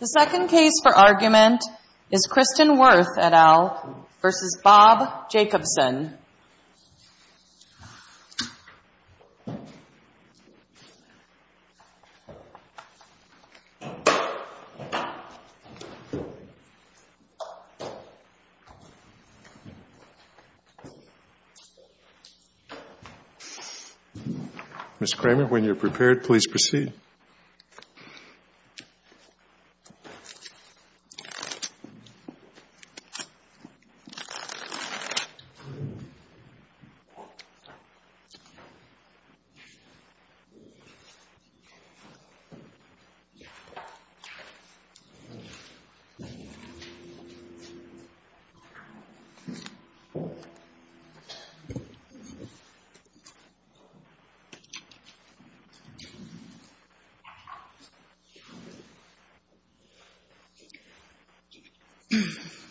The second case for argument is Kristin Worth et al. v. Bob Jacobson. Ms. Kramer, when you are prepared, please proceed. Ms. Kramer, please proceed. Ms. Kramer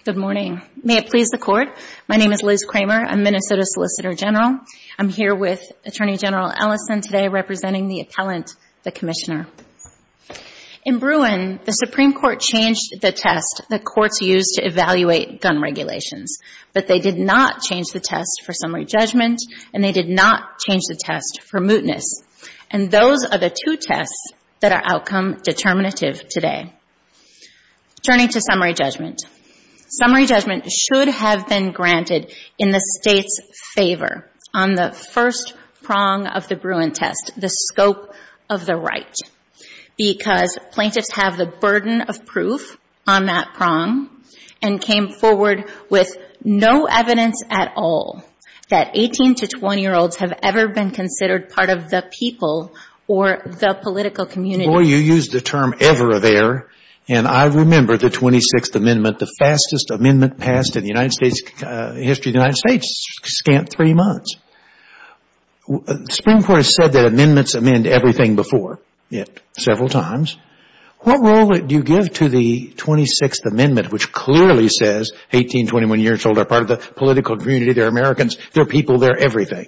Good morning, may it please the Court, my name is Liz Kramer, I'm Minnesota Solicitor General, I'm here with Attorney General Ellison today representing the appellant, the Commissioner. In Bruin, the Supreme Court changed the test the Courts used to evaluate gun regulations, but they did not change the test for summary judgment, and they did not change the test for mootness. And those are the two tests that are outcome determinative today. Turning to summary judgment, summary judgment should have been granted in the State's favor on the first prong of the Bruin test, the scope of the right, because plaintiffs have the burden of proof on that prong, and came forward with no evidence at all that 18-20 years old are part of the political community, they're Americans, they're people, they're Ms. Kramer, you used the term ever there, and I remember the 26th Amendment, the fastest amendment passed in the history of the United States, scant three months. The Supreme Court has said that amendments amend everything before, several times. What role do you give to the 26th Amendment, which clearly says 18-21 years old are part of the political community, they're Americans, they're people, they're everything?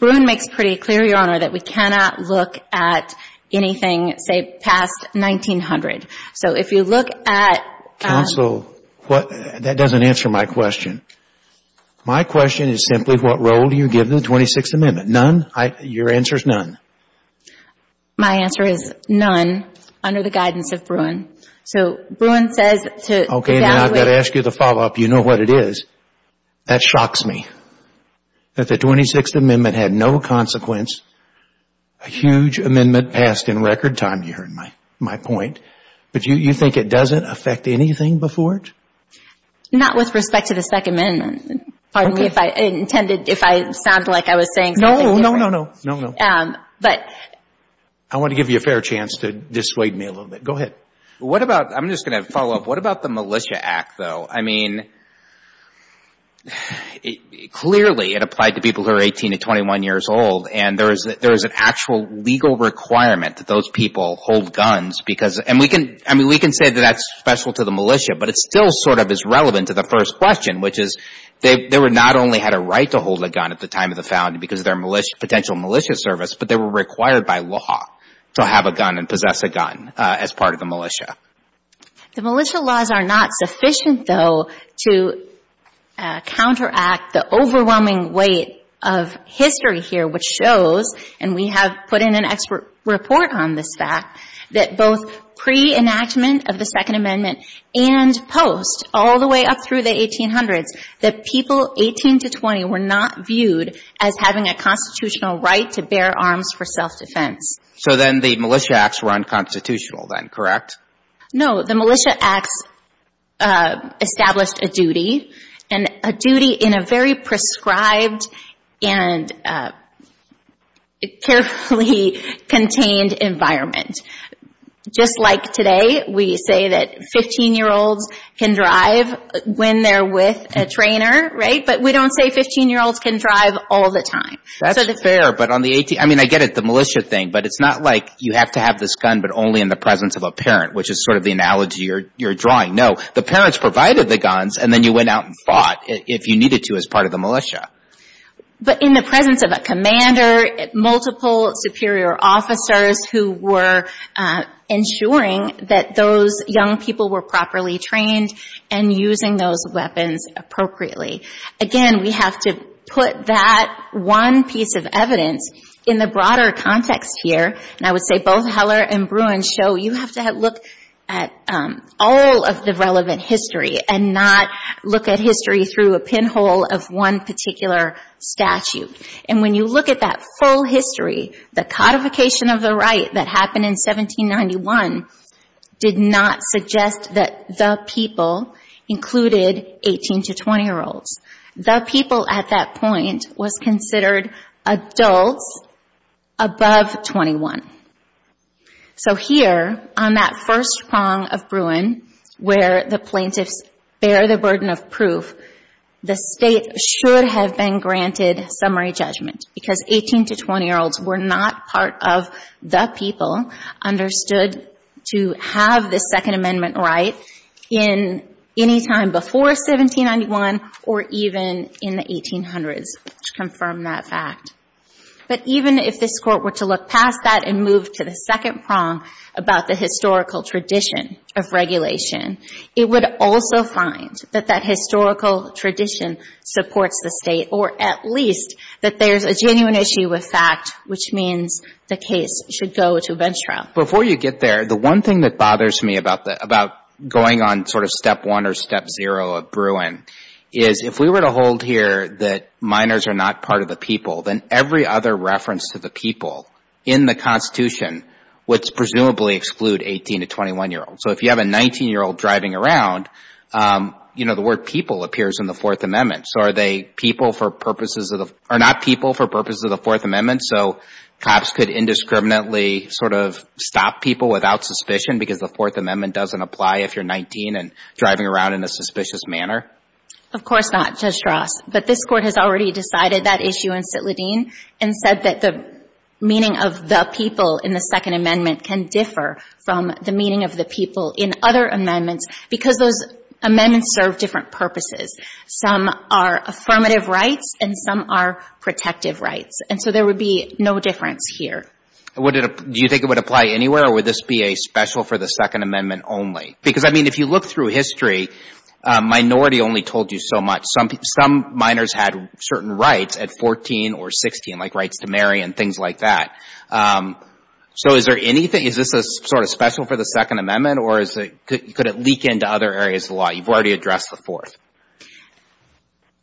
Bruin makes pretty clear, Your Honor, that we cannot look at anything, say, past 1900. So if you look at Counsel, that doesn't answer my question. My question is simply, what role do you give to the 26th Amendment? None? Your answer is none. My answer is none, under the guidance of Bruin. So Bruin says to evaluate Okay, now I've got to ask you the follow-up. You know what it is. That shocks me. That the 26th Amendment had no consequence, a huge amendment passed in record time, you heard my point, but you think it doesn't affect anything before it? Not with respect to the Second Amendment. Pardon me if I intended, if I sounded like I was saying something different. No, no, no, no, no, no. But I want to give you a fair chance to dissuade me a little bit. Go ahead. What about, I'm just going to follow up, what about the Militia Act, though? I mean, clearly it applied to people who are 18 to 21 years old, and there is an actual legal requirement that those people hold guns because and we can say that that's special to the militia, but it still sort of is relevant to the first question, which is they not only had a right to hold a gun at the time of the founding because of their potential militia service, but they were required by law to have a gun and possess a gun as part of the militia. The militia laws are not sufficient, though, to counteract the overwhelming weight of history here, which shows, and we have put in an expert report on this fact, that both pre-enactment of the Second Amendment and post, all the way up through the 1800s, that people 18 to 20 were not viewed as having a constitutional right to bear arms for self-defense. So then the Militia Acts were unconstitutional then, correct? No, the Militia Acts established a duty, and a duty in a very prescribed and carefully contained environment. Just like today, we say that 15-year-olds can drive when they're with a trainer, right, but we don't say 15-year-olds can drive all the time. That's fair, but on the 18th, I mean, I get it, the militia thing, but it's not like you have to have this gun, but only in the presence of a parent, which is sort of the analogy you're drawing. No, the parents provided the guns, and then you went out and fought if you needed to as part of the militia. But in the presence of a commander, multiple superior officers who were ensuring that those young people were properly trained and using those weapons appropriately. Again, we have to put that one piece of evidence in the broader context here, and I would say both Heller and Bruin show you have to look at all of the relevant history and not look at history through a pinhole of one particular statute. And when you look at that full history, the codification of the right that happened in 1791 did not suggest that the people included 18- to 20-year-olds. The people at that point was considered adults above 21. So here, on that first prong of Bruin, where the plaintiffs bear the burden of proof, the state should have been granted summary judgment because 18- to 20-year-olds were not part of the people understood to have the Second Amendment right in any time before 1791 or even in the 1800s, which confirmed that fact. But even if this Court were to look past that and move to the second prong about the historical tradition of regulation, it would also find that that historical tradition supports the state, or at least that there's a genuine issue with fact, which means the case should go to bench trial. Before you get there, the one thing that bothers me about going on sort of step one or step zero of Bruin is if we were to hold here that minors are not part of the people, then every other reference to the people in the Constitution would presumably exclude 18- to 21-year-olds. So if you have a 19-year-old driving around, you know, the word people appears in the Fourth Amendment. So are they people for purposes of the – or not people for purposes of the Fourth Amendment? So cops could indiscriminately sort of stop people without suspicion because the Fourth Amendment doesn't apply if you're 19 and driving around in a suspicious manner? Of course not, Judge Ross. But this Court has already decided that issue in Citladin and said that the meaning of the people in the Second Amendment can differ from the meaning of the people in other amendments because those amendments serve different purposes. Some are affirmative rights and some are protective rights. And so there would be no difference here. Would it – do you think it would apply anywhere, or would this be a special for the Second Amendment only? Because, I mean, if you look through history, minority only told you so much. Some minors had certain rights at 14 or 16, like rights to marry and things like that. So is there anything – is this sort of special for the Second Amendment, or is it – could it leak into other areas of the law? You've already addressed the Fourth.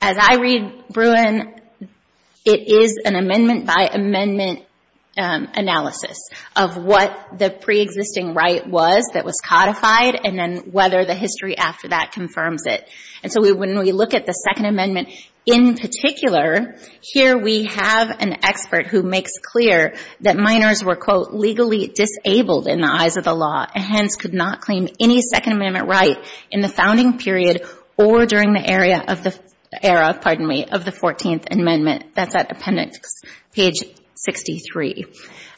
As I read Bruin, it is an amendment-by-amendment analysis of what the preexisting right was that was codified and then whether the history after that confirms it. And so when we look at the Second Amendment in particular, here we have an expert who makes clear that minors were, quote, legally disabled in the eyes of the law and hence could not claim any Second Amendment right in the founding period or during the era of the Fourteenth Amendment. That's at appendix page 63.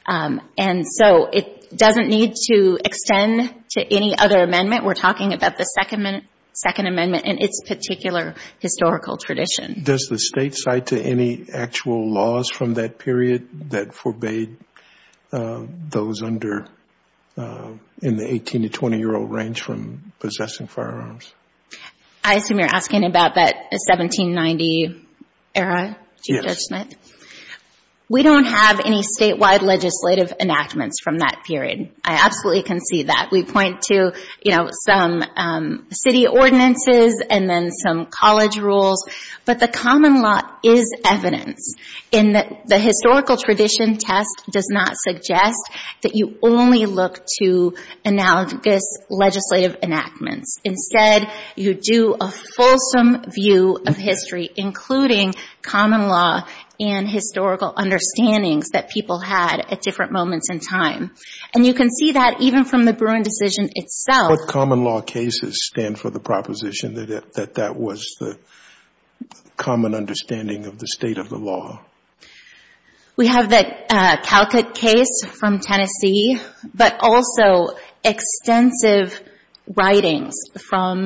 And so it doesn't need to extend to any other amendment. We're talking about the Second Amendment and its particular historical tradition. Does the State cite to any actual laws from that period that forbade those under – in the 18- to 20-year-old range from possessing firearms? I assume you're asking about that 1790 era, Chief Judge Smith? Yes. We don't have any statewide legislative enactments from that period. I absolutely can see that. We point to, you know, some city ordinances and then some college rules. But the common law is evidence in that the historical tradition test does not suggest that you only look to analogous legislative enactments. Instead, you do a fulsome view of history, including common law and historical understandings that people had at different moments in time. And you can see that even from the Bruin decision itself. What common law cases stand for the proposition that that was the common understanding of the state of the law? We have the Calcutt case from Tennessee, but also extensive writings from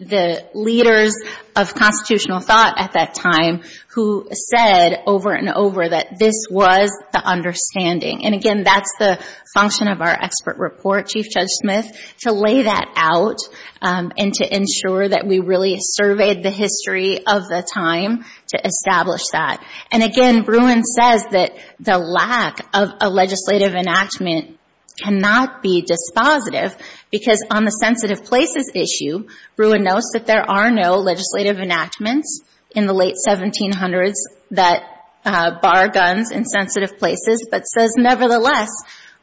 the leaders of constitutional thought at that time who said over and over that this was the understanding. And again, that's the function of our expert report, Chief Judge Smith, to lay that out and to ensure that we really surveyed the history of the time to establish that. And again, Bruin says that the lack of a legislative enactment cannot be dispositive because on the sensitive places issue, Bruin notes that there are no legislative enactments in the late 1700s that bar guns in sensitive places, but says nevertheless,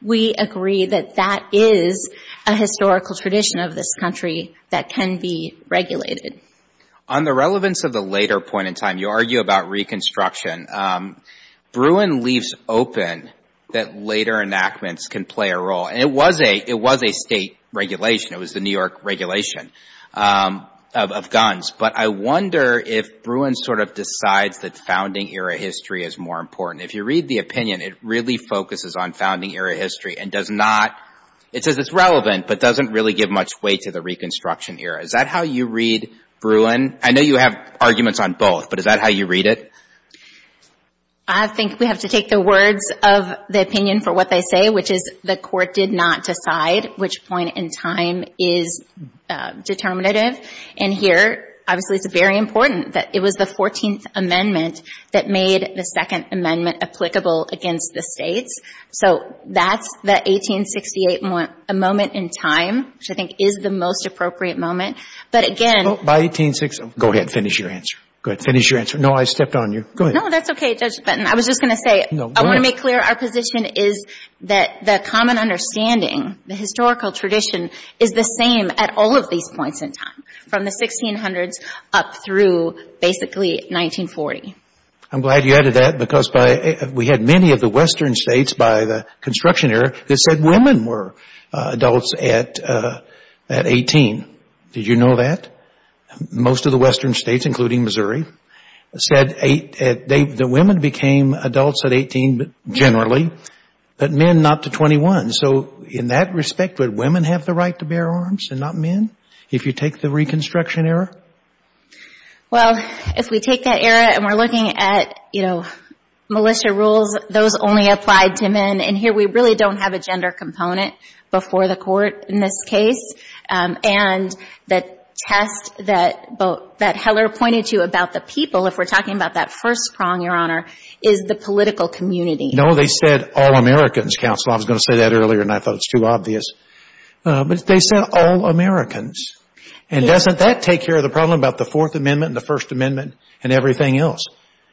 we agree that that is a historical tradition of this country that can be regulated. On the relevance of the later point in time, you argue about Reconstruction. Bruin leaves open that later enactments can play a role. And it was a state regulation. It was the New York regulation of guns. But I wonder if Bruin sort of decides that founding era history is more important. If you read the opinion, it really focuses on founding era history and does not, it says it's relevant, but doesn't really give much weight to the Reconstruction era. Is that how you read Bruin? I know you have arguments on both, but is that how you read it? I think we have to take the words of the opinion for what they say, which is the Court did not decide which point in time is determinative. And here, obviously, it's very important that it was the 14th Amendment that made the Second Amendment applicable against the States. So that's the 1868 moment in time, which I think is the most appropriate moment. But again — By 1860 — go ahead and finish your answer. Go ahead and finish your answer. No, I stepped on you. Go ahead. No, that's okay, Judge Benton. I was just going to say — No, go ahead. I want to make clear our position is that the common understanding, the historical tradition, is the same at all of these points in time, from the 1600s up through basically 1940. I'm glad you added that because we had many of the Western states by the Construction era that said women were adults at 18. Did you know that? Most of the Western states, including Missouri, said the women became adults at 18 generally, but men not to 21. So in that respect, would women have the right to bear arms and not men, if you take the Reconstruction era? Well, if we take that era and we're looking at, you know, militia rules, those only applied to men. And here we really don't have a gender component before the Court in this case. And the test that Heller pointed to about the people, if we're talking about that first prong, Your Honor, is the political community. No, they said all Americans, counsel. I was going to say that earlier and I thought it was too obvious. But they said all Americans. And doesn't that take care of the problem about the Fourth Amendment and the First Amendment and everything else?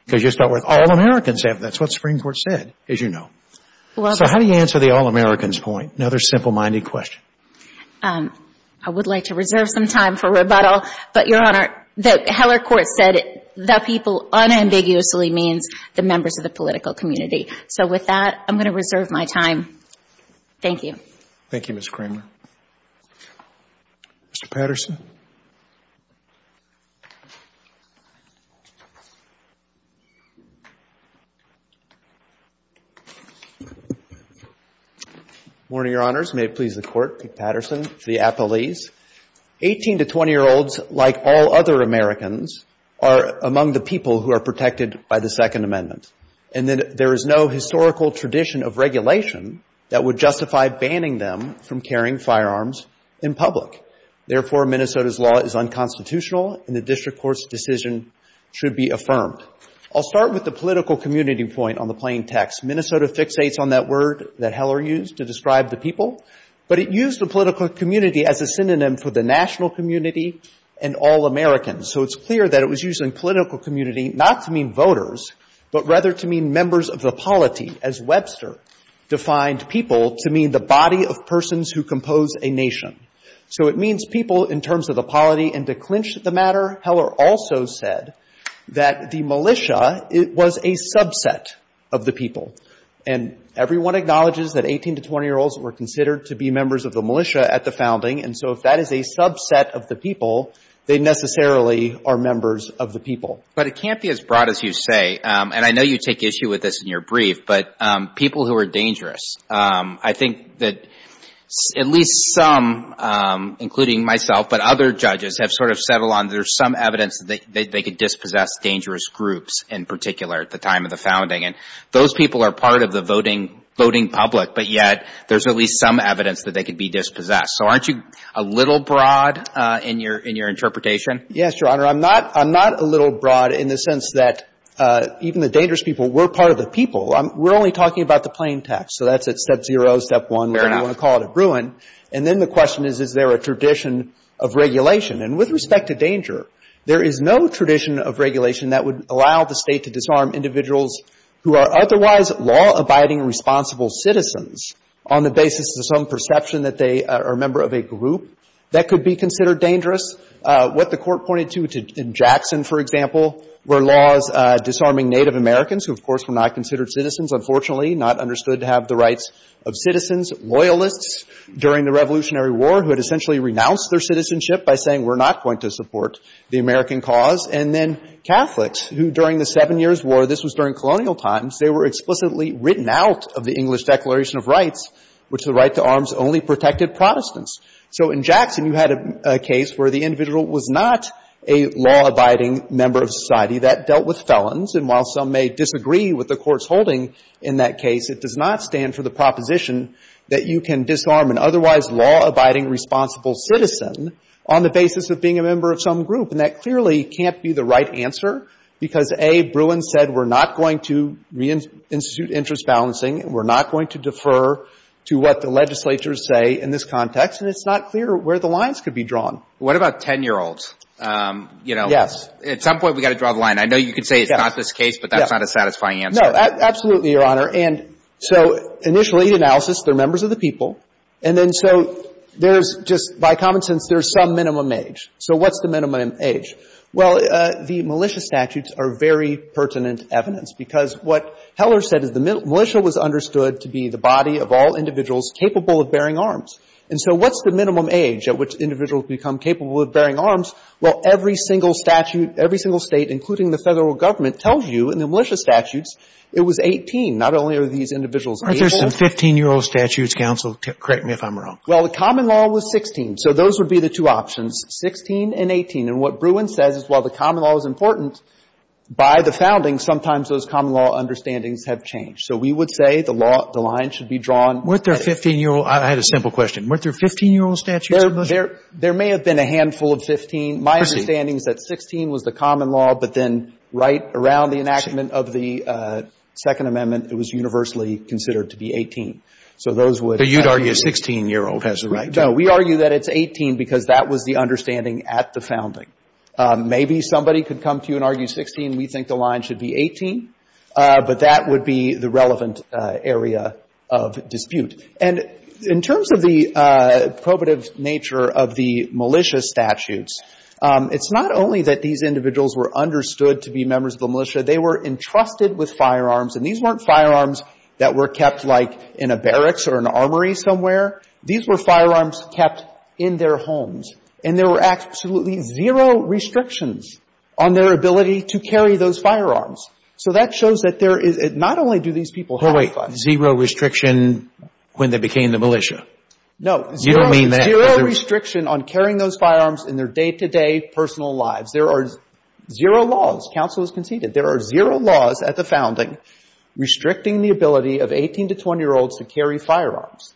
Because you start with all Americans. That's what the Supreme Court said, as you know. So how do you answer the all Americans point? Another simple-minded question. I would like to reserve some time for rebuttal, but, Your Honor, the Heller Court said the people unambiguously means the members of the political community. So with that, I'm going to reserve my time. Thank you. Thank you, Ms. Kramer. Mr. Patterson. Good morning, Your Honors. May it please the Court, Pete Patterson, the appellees. 18- to 20-year-olds, like all other Americans, are among the people who are protected by the Second Amendment. And there is no historical tradition of regulation that would justify banning them from carrying firearms in public. Therefore, Minnesota's law is unconstitutional and the district court's decision should be affirmed. I'll start with the political community point on the plain text. Minnesota fixates on that word that Heller used to describe the people, but it used the political community as a synonym for the national community and all Americans. So it's clear that it was using political community not to mean voters, but rather to mean members of the polity, as Webster defined people to mean the body of persons who compose a nation. So it means people in terms of the polity. And to clinch the matter, Heller also said that the militia was a subset of the people. And everyone acknowledges that 18- to 20-year-olds were considered to be members of the militia at the founding, and so if that is a subset of the people, they necessarily are members of the people. But it can't be as broad as you say, and I know you take issue with this in your brief, but people who are dangerous. I think that at least some, including myself, but other judges have sort of settled on there's some evidence that they could dispossess dangerous groups in particular at the time of the founding. And those people are part of the voting public, but yet there's at least some evidence that they could be dispossessed. So aren't you a little broad in your interpretation? Yes, Your Honor. I'm not a little broad in the sense that even the dangerous people were part of the people. We're only talking about the plain text. So that's at step zero, step one, whatever you want to call it, a ruin. And then the question is, is there a tradition of regulation? And with respect to danger, there is no tradition of regulation that would allow the State to disarm individuals who are otherwise law-abiding responsible citizens on the basis of some perception that they are a member of a group that could be considered dangerous. What the Court pointed to in Jackson, for example, were laws disarming Native Americans who, of course, were not considered citizens, unfortunately, not understood to have the rights of citizens. Loyalists during the Revolutionary War who had essentially renounced their citizenship by saying we're not going to support the American cause. And then Catholics who during the Seven Years' War, this was during colonial times, they were explicitly written out of the English Declaration of Rights, which the right to arms only protected Protestants. So in Jackson, you had a case where the individual was not a law-abiding member of society. That dealt with felons. And while some may disagree with the Court's holding in that case, it does not stand for the proposition that you can disarm an otherwise law-abiding responsible citizen on the basis of being a member of some group. And that clearly can't be the right answer because, A, Bruin said we're not going to reinstitute interest balancing and we're not going to defer to what the legislatures say in this context. And it's not clear where the lines could be drawn. What about 10-year-olds? Yes. At some point, we've got to draw the line. I know you could say it's not this case, but that's not a satisfying answer. No. Absolutely, Your Honor. And so initially, the analysis, they're members of the people. And then so there's just, by common sense, there's some minimum age. So what's the minimum age? Well, the militia statutes are very pertinent evidence. Because what Heller said is the militia was understood to be the body of all individuals capable of bearing arms. And so what's the minimum age at which individuals become capable of bearing arms? Well, every single statute, every single State, including the Federal Government, tells you in the militia statutes it was 18. Not only are these individuals able to do that. Are there some 15-year-old statutes, counsel? Correct me if I'm wrong. Well, the common law was 16. So those would be the two options. 16 and 18. And what Bruin says is while the common law is important, by the founding, sometimes those common law understandings have changed. So we would say the law, the line should be drawn. Weren't there 15-year-old? I had a simple question. Weren't there 15-year-old statutes in the militia? There may have been a handful of 15. My understanding is that 16 was the common law. But then right around the enactment of the Second Amendment, it was universally considered to be 18. So those would have to be. But you'd argue a 16-year-old has the right to. No. We argue that it's 18 because that was the understanding at the founding. Maybe somebody could come to you and argue 16. We think the line should be 18. But that would be the relevant area of dispute. And in terms of the probative nature of the militia statutes, it's not only that these individuals were understood to be members of the militia. They were entrusted with firearms. And these weren't firearms that were kept, like, in a barracks or an armory somewhere. These were firearms kept in their homes. And there were absolutely zero restrictions on their ability to carry those firearms. So that shows that there is not only do these people have firearms. Oh, wait. Zero restriction when they became the militia? No. You don't mean that. Zero restriction on carrying those firearms in their day-to-day personal lives. There are zero laws. Counsel has conceded. There are zero laws at the founding restricting the ability of 18- to 20-year-olds to carry firearms.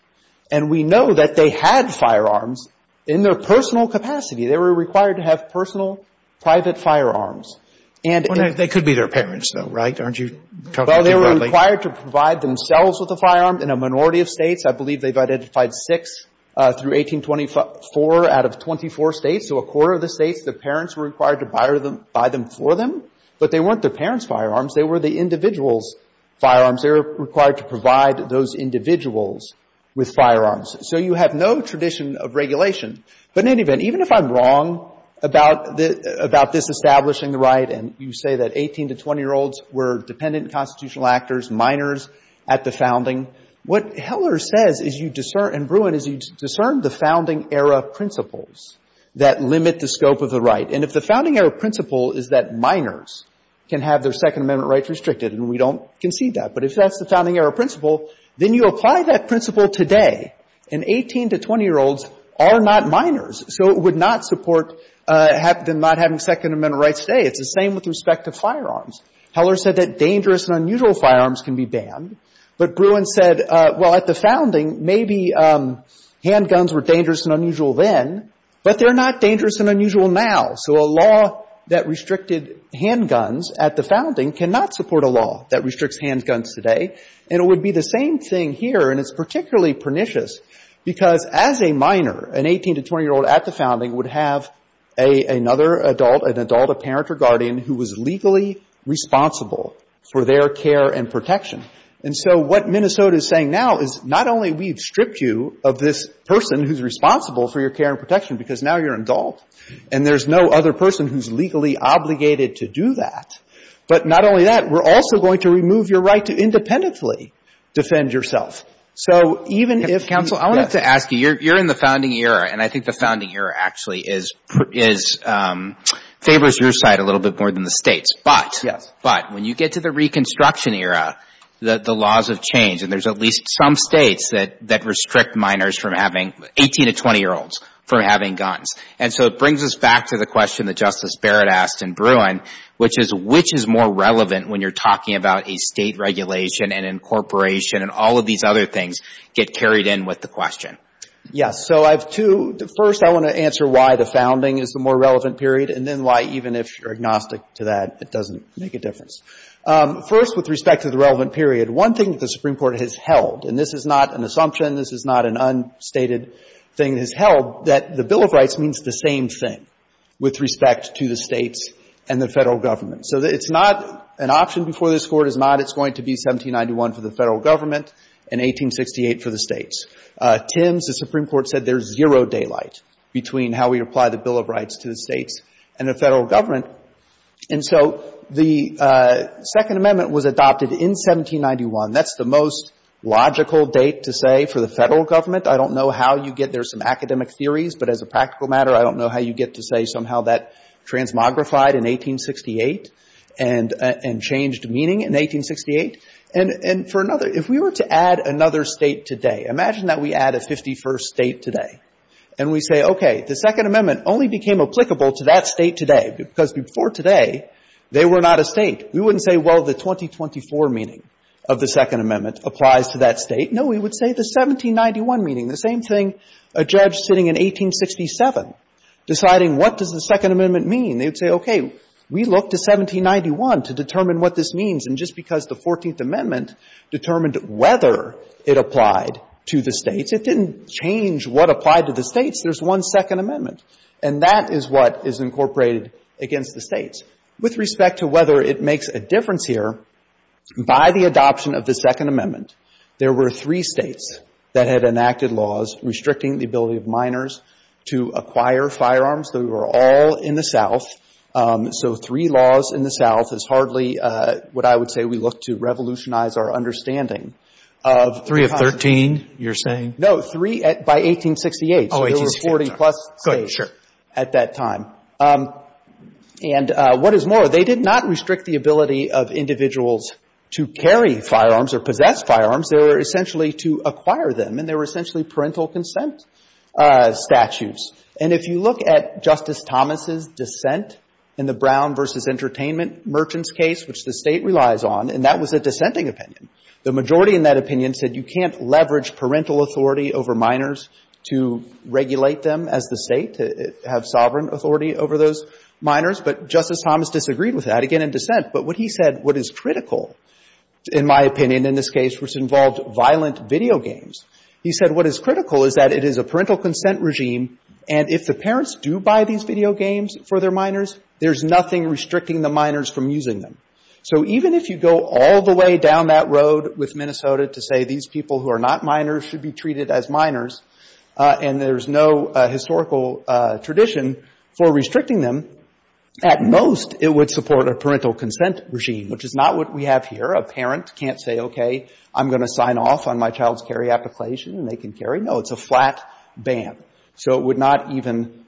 And we know that they had firearms in their personal capacity. They were required to have personal, private firearms. Well, they could be their parents, though, right? Aren't you talking too broadly? Well, they were required to provide themselves with a firearm. In a minority of states, I believe they've identified six through 1824 out of 24 states. So a quarter of the states, the parents were required to buy them for them. But they weren't their parents' firearms. They were the individuals' firearms. They were required to provide those individuals with firearms. So you have no tradition of regulation. But in any event, even if I'm wrong about this establishing the right, and you say that 18- to 20-year-olds were dependent constitutional actors, minors at the founding, what Heller says is you discern, and Bruin, is you discern the founding-era principles that limit the scope of the right. And if the founding-era principle is that minors can have their Second Amendment rights restricted, and we don't concede that. But if that's the founding-era principle, then you apply that principle today. And 18- to 20-year-olds are not minors. So it would not support them not having Second Amendment rights today. It's the same with respect to firearms. Heller said that dangerous and unusual firearms can be banned. But Bruin said, well, at the founding, maybe handguns were dangerous and unusual then, but they're not dangerous and unusual now. So a law that restricted handguns at the founding cannot support a law that restricts handguns today. And it would be the same thing here, and it's particularly pernicious, because as a minor, an 18- to 20-year-old at the founding would have another adult, an adult, a parent or guardian, who was legally responsible for their care and protection. And so what Minnesota is saying now is not only we've stripped you of this person who's responsible for your care and protection, because now you're an adult, and there's no other person who's legally obligated to do that. But not only that, we're also going to remove your right to independently defend yourself. So even if you — Counsel, I wanted to ask you. You're in the founding era, and I think the founding era actually is — favors your side a little bit more than the States. But — Yes. But when you get to the Reconstruction era, the laws have changed, and there's at least some States that restrict minors from having — 18- to 20-year-olds from having guns. And so it brings us back to the question that Justice Barrett asked in Bruin, which is, which is more relevant when you're talking about a State regulation and incorporation and all of these other things get carried in with the question? Yes. So I have two. First, I want to answer why the founding is the more relevant period, and then why, even if you're agnostic to that, it doesn't make a difference. First, with respect to the relevant period, one thing that the Supreme Court has held — and this is not an assumption, this is not an unstated thing it has with respect to the States and the Federal Government. So it's not — an option before this Court is not it's going to be 1791 for the Federal Government and 1868 for the States. Tims, the Supreme Court, said there's zero daylight between how we apply the Bill of Rights to the States and the Federal Government. And so the Second Amendment was adopted in 1791. That's the most logical date to say for the Federal Government. I don't know how you get there. There's some academic theories, but as a practical matter, I don't know how you get to say somehow that transmogrified in 1868 and changed meaning in 1868. And for another, if we were to add another State today, imagine that we add a 51st State today, and we say, okay, the Second Amendment only became applicable to that State today, because before today, they were not a State. We wouldn't say, well, the 2024 meaning of the Second Amendment applies to that State. No, we would say the 1791 meaning. The same thing, a judge sitting in 1867 deciding what does the Second Amendment mean, they would say, okay, we look to 1791 to determine what this means. And just because the Fourteenth Amendment determined whether it applied to the States, it didn't change what applied to the States. There's one Second Amendment. And that is what is incorporated against the States. With respect to whether it makes a difference here, by the adoption of the Second Amendment, the States that had enacted laws restricting the ability of minors to acquire firearms, they were all in the South. So three laws in the South is hardly what I would say we look to revolutionize our understanding. Three of 13, you're saying? No, three by 1868. Oh, 1868. So there were 40-plus States at that time. And what is more, they did not restrict the ability of individuals to carry firearms or possess firearms. They were essentially to acquire them. And they were essentially parental consent statutes. And if you look at Justice Thomas' dissent in the Brown v. Entertainment Merchants case, which the State relies on, and that was a dissenting opinion, the majority in that opinion said you can't leverage parental authority over minors to regulate them as the State, to have sovereign authority over those minors. But Justice Thomas disagreed with that, again, in dissent. But what he said, what is critical, in my opinion, in this case, which involved violent video games, he said what is critical is that it is a parental consent regime. And if the parents do buy these video games for their minors, there's nothing restricting the minors from using them. So even if you go all the way down that road with Minnesota to say these people who are not minors should be treated as minors, and there's no historical tradition for restricting them, at most it would support a parental consent regime, which is not what we have here. A parent can't say, okay, I'm going to sign off on my child's carry application and they can carry. No, it's a flat ban. So it would not even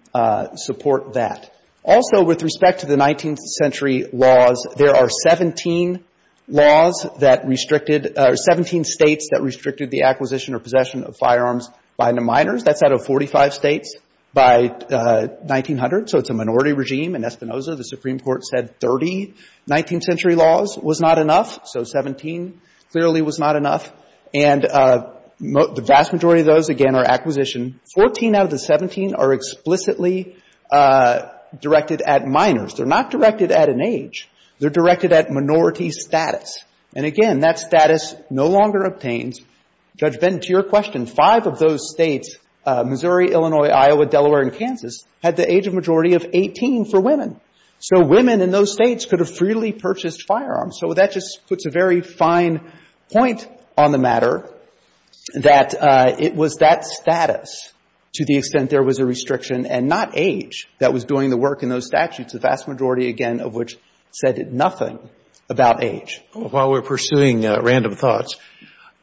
support that. Also, with respect to the 19th Century laws, there are 17 laws that restricted or 17 States that restricted the acquisition or possession of firearms by the minors. That's out of 45 States by 1900. So it's a minority regime. In Espinoza, the Supreme Court said 30 19th Century laws was not enough. So 17 clearly was not enough. And the vast majority of those, again, are acquisition. Fourteen out of the 17 are explicitly directed at minors. They're not directed at an age. They're directed at minority status. And, again, that status no longer obtains. Judge Benton, to your question, five of those States, Missouri, Illinois, Iowa, Delaware, and Kansas, had the age majority of 18 for women. So women in those States could have freely purchased firearms. So that just puts a very fine point on the matter, that it was that status to the extent there was a restriction and not age that was doing the work in those statutes, the vast majority, again, of which said nothing about age. While we're pursuing random thoughts,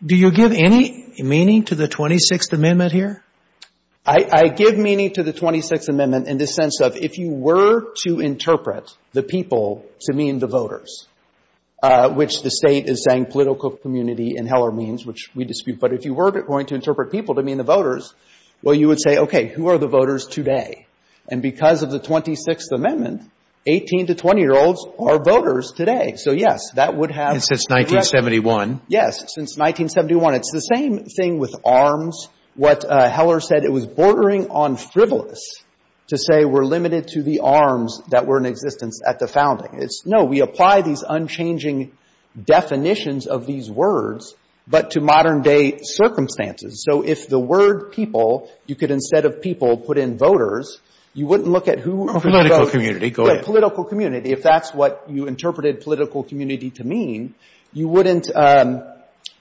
do you give any meaning to the 26th Amendment here? I give meaning to the 26th Amendment in the sense of if you were to interpret the people to mean the voters, which the State is saying political community in Heller means, which we dispute. But if you were going to interpret people to mean the voters, well, you would say, okay, who are the voters today? And because of the 26th Amendment, 18 to 20-year-olds are voters today. So, yes, that would have been. And since 1971. Yes. Since 1971. It's the same thing with arms. What Heller said, it was bordering on frivolous to say we're limited to the arms that were in existence at the founding. It's, no, we apply these unchanging definitions of these words, but to modern-day circumstances. So if the word people, you could, instead of people, put in voters, you wouldn't look at who. Political community. Go ahead. Political community. If that's what you interpreted political community to mean, you wouldn't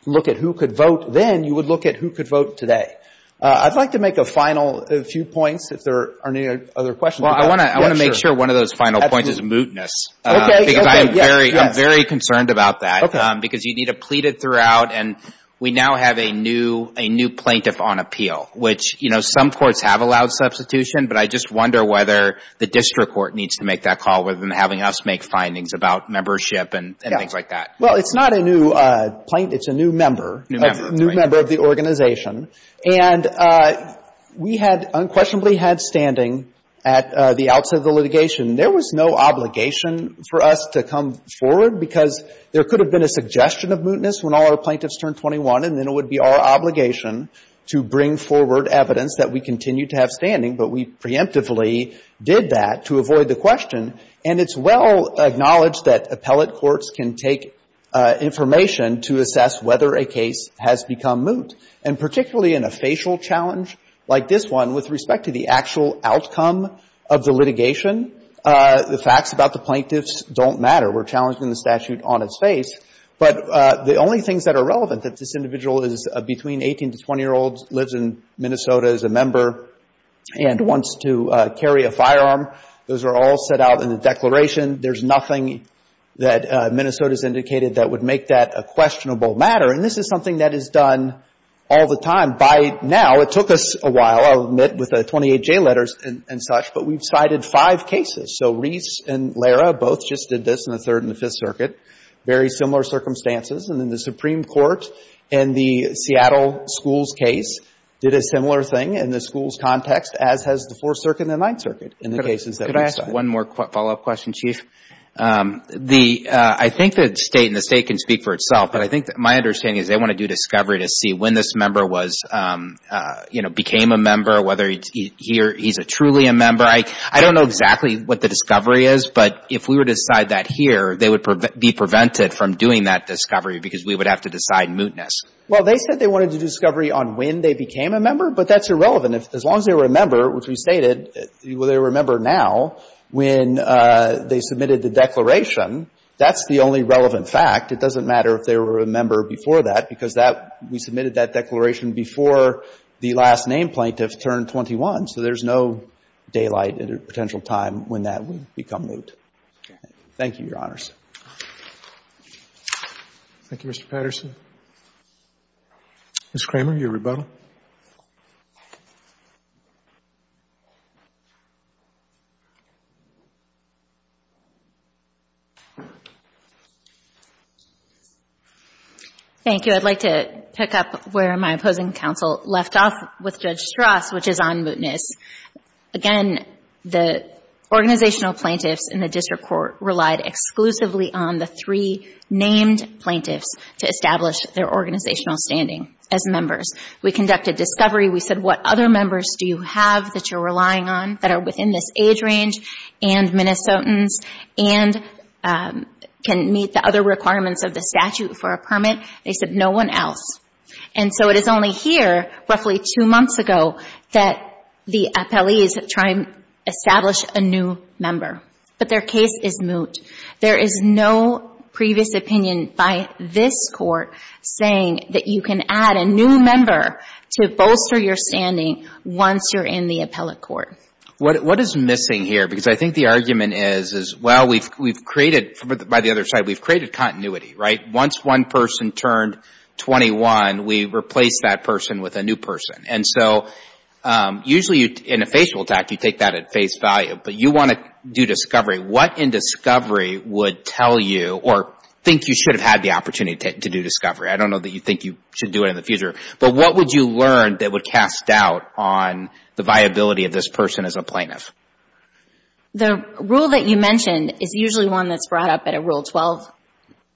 look at who could vote then. You would look at who could vote today. I'd like to make a final few points, if there are any other questions. Well, I want to make sure one of those final points is mootness. Okay. Okay. Yes, yes. Because I'm very concerned about that. Okay. Because you need a pleaded throughout, and we now have a new plaintiff on appeal, which, you know, some courts have allowed substitution, but I just wonder whether the district court needs to make that call rather than having us make findings about membership and things like that. Yes. Well, it's not a new plaintiff. It's a new member. New member. New member of the organization. And we had unquestionably had standing at the outset of the litigation. There was no obligation for us to come forward because there could have been a suggestion of mootness when all our plaintiffs turned 21, and then it would be our obligation to bring forward evidence that we continue to have standing, but we preemptively did that to avoid the question. And it's well acknowledged that appellate courts can take information to assess whether a case has become moot. And particularly in a facial challenge like this one, with respect to the actual outcome of the litigation, the facts about the plaintiffs don't matter. We're challenging the statute on its face. But the only things that are relevant, that this individual is between 18 to 20-year-olds, lives in Minnesota as a member, and wants to carry a firearm, those are all set out in the declaration. There's nothing that Minnesota has indicated that would make that a questionable matter. And this is something that is done all the time. By now, it took us a while, I'll admit, with the 28J letters and such, but we've cited five cases. So Reese and Lara both just did this in the Third and the Fifth Circuit, very similar circumstances. And then the Supreme Court, in the Seattle schools case, did a similar thing in the schools context, as has the Fourth Circuit and the Ninth Circuit in the cases that we cited. Can I ask one more follow-up question, Chief? I think the State, and the State can speak for itself, but I think my understanding is they want to do discovery to see when this member was, you know, became a member, whether he's truly a member. I don't know exactly what the discovery is, but if we were to decide that here, they would be prevented from doing that discovery because we would have to decide mootness. Well, they said they wanted to do discovery on when they became a member, but that's irrelevant. As long as they were a member, which we stated, well, they were a member now, when they submitted the declaration, that's the only relevant fact. It doesn't matter if they were a member before that, because that we submitted that declaration before the last-name plaintiff turned 21. So there's no daylight at a potential time when that would become moot. Thank you, Your Honors. Thank you, Mr. Patterson. Ms. Kramer, your rebuttal. Thank you. I'd like to pick up where my opposing counsel left off with Judge Strauss, which is on mootness. Again, the organizational plaintiffs in the district court relied exclusively on the three named plaintiffs to establish their organizational standing as members. We conducted discovery. We said, what other members do you have that you're relying on that are within this age range and Minnesotans and can meet the other requirements of the statute for a permit? They said, no one else. And so it is only here, roughly two months ago, that the appellees try and establish a new member. But their case is moot. There is no previous opinion by this court saying that you can add a new member to bolster your standing once you're in the appellate court. What is missing here? Because I think the argument is, well, we've created, by the other side, we've created continuity, right? Once one person turned 21, we replaced that person with a new person. And so usually in a facial attack, you take that at face value. But you want to do discovery. What in discovery would tell you or think you should have had the opportunity to do discovery? I don't know that you think you should do it in the future, but what would you learn that would cast doubt on the viability of this person as a plaintiff? The rule that you mentioned is usually one that's brought up at a Rule 12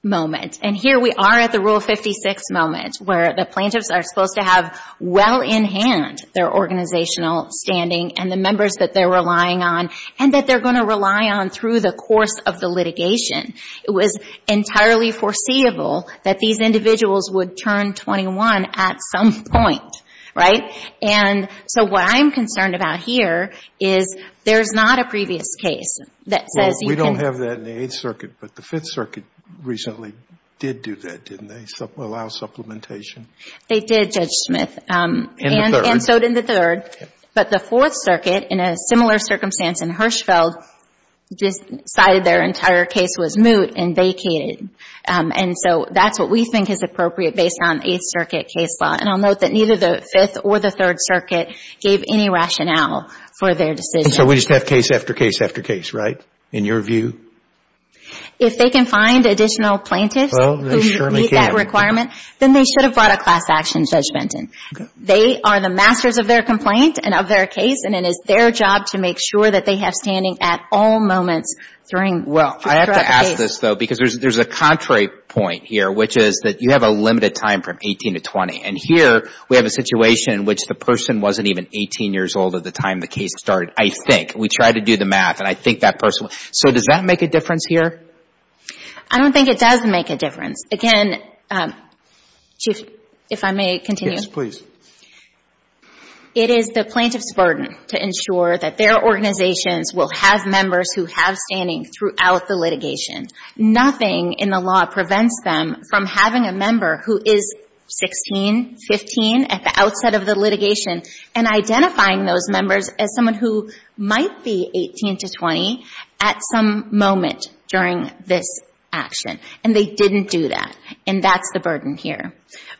moment. And here we are at the Rule 56 moment, where the plaintiffs are supposed to have well in hand their organizational standing and the members that they're relying on and that they're going to rely on through the course of the litigation. It was entirely foreseeable that these individuals would turn 21 at some point, right? And so what I'm concerned about here is there's not a previous case that says you can Well, we don't have that in the Eighth Circuit, but the Fifth Circuit recently did do that, didn't they, allow supplementation? They did, Judge Smith. In the third. And so did the third. But the Fourth Circuit, in a similar circumstance in Hirschfeld, just decided their entire case was moot and vacated. And so that's what we think is appropriate based on Eighth Circuit case law. And I'll note that neither the Fifth or the Third Circuit gave any rationale for their decision. And so we just have case after case after case, right, in your view? If they can find additional plaintiffs who meet that requirement, then they should have brought a class action judgment in. They are the masters of their complaint and of their case, and it is their job to make sure that they have standing at all moments during the case. Well, I have to ask this, though, because there's a contrary point here, which is that you have a limited time from 18 to 20. And here we have a situation in which the person wasn't even 18 years old at the time the case started, I think. We tried to do the math, and I think that person was. So does that make a difference here? I don't think it does make a difference. Again, Chief, if I may continue. Yes, please. It is the plaintiff's burden to ensure that their organizations will have members who have standing throughout the litigation. Nothing in the law prevents them from having a member who is 16, 15, at the outset of the litigation, and identifying those members as someone who might be 18 to 20 at some moment during this action. And they didn't do that. And that's the burden here.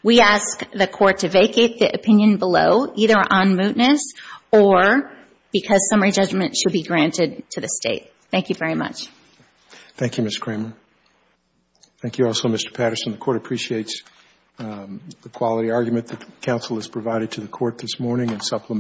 We ask the Court to vacate the opinion below, either on mootness or because summary judgment should be granted to the State. Thank you very much. Thank you, Ms. Kramer. Thank you also, Mr. Patterson. The Court appreciates the quality argument that the Counsel has provided to the Court this morning and supplements it.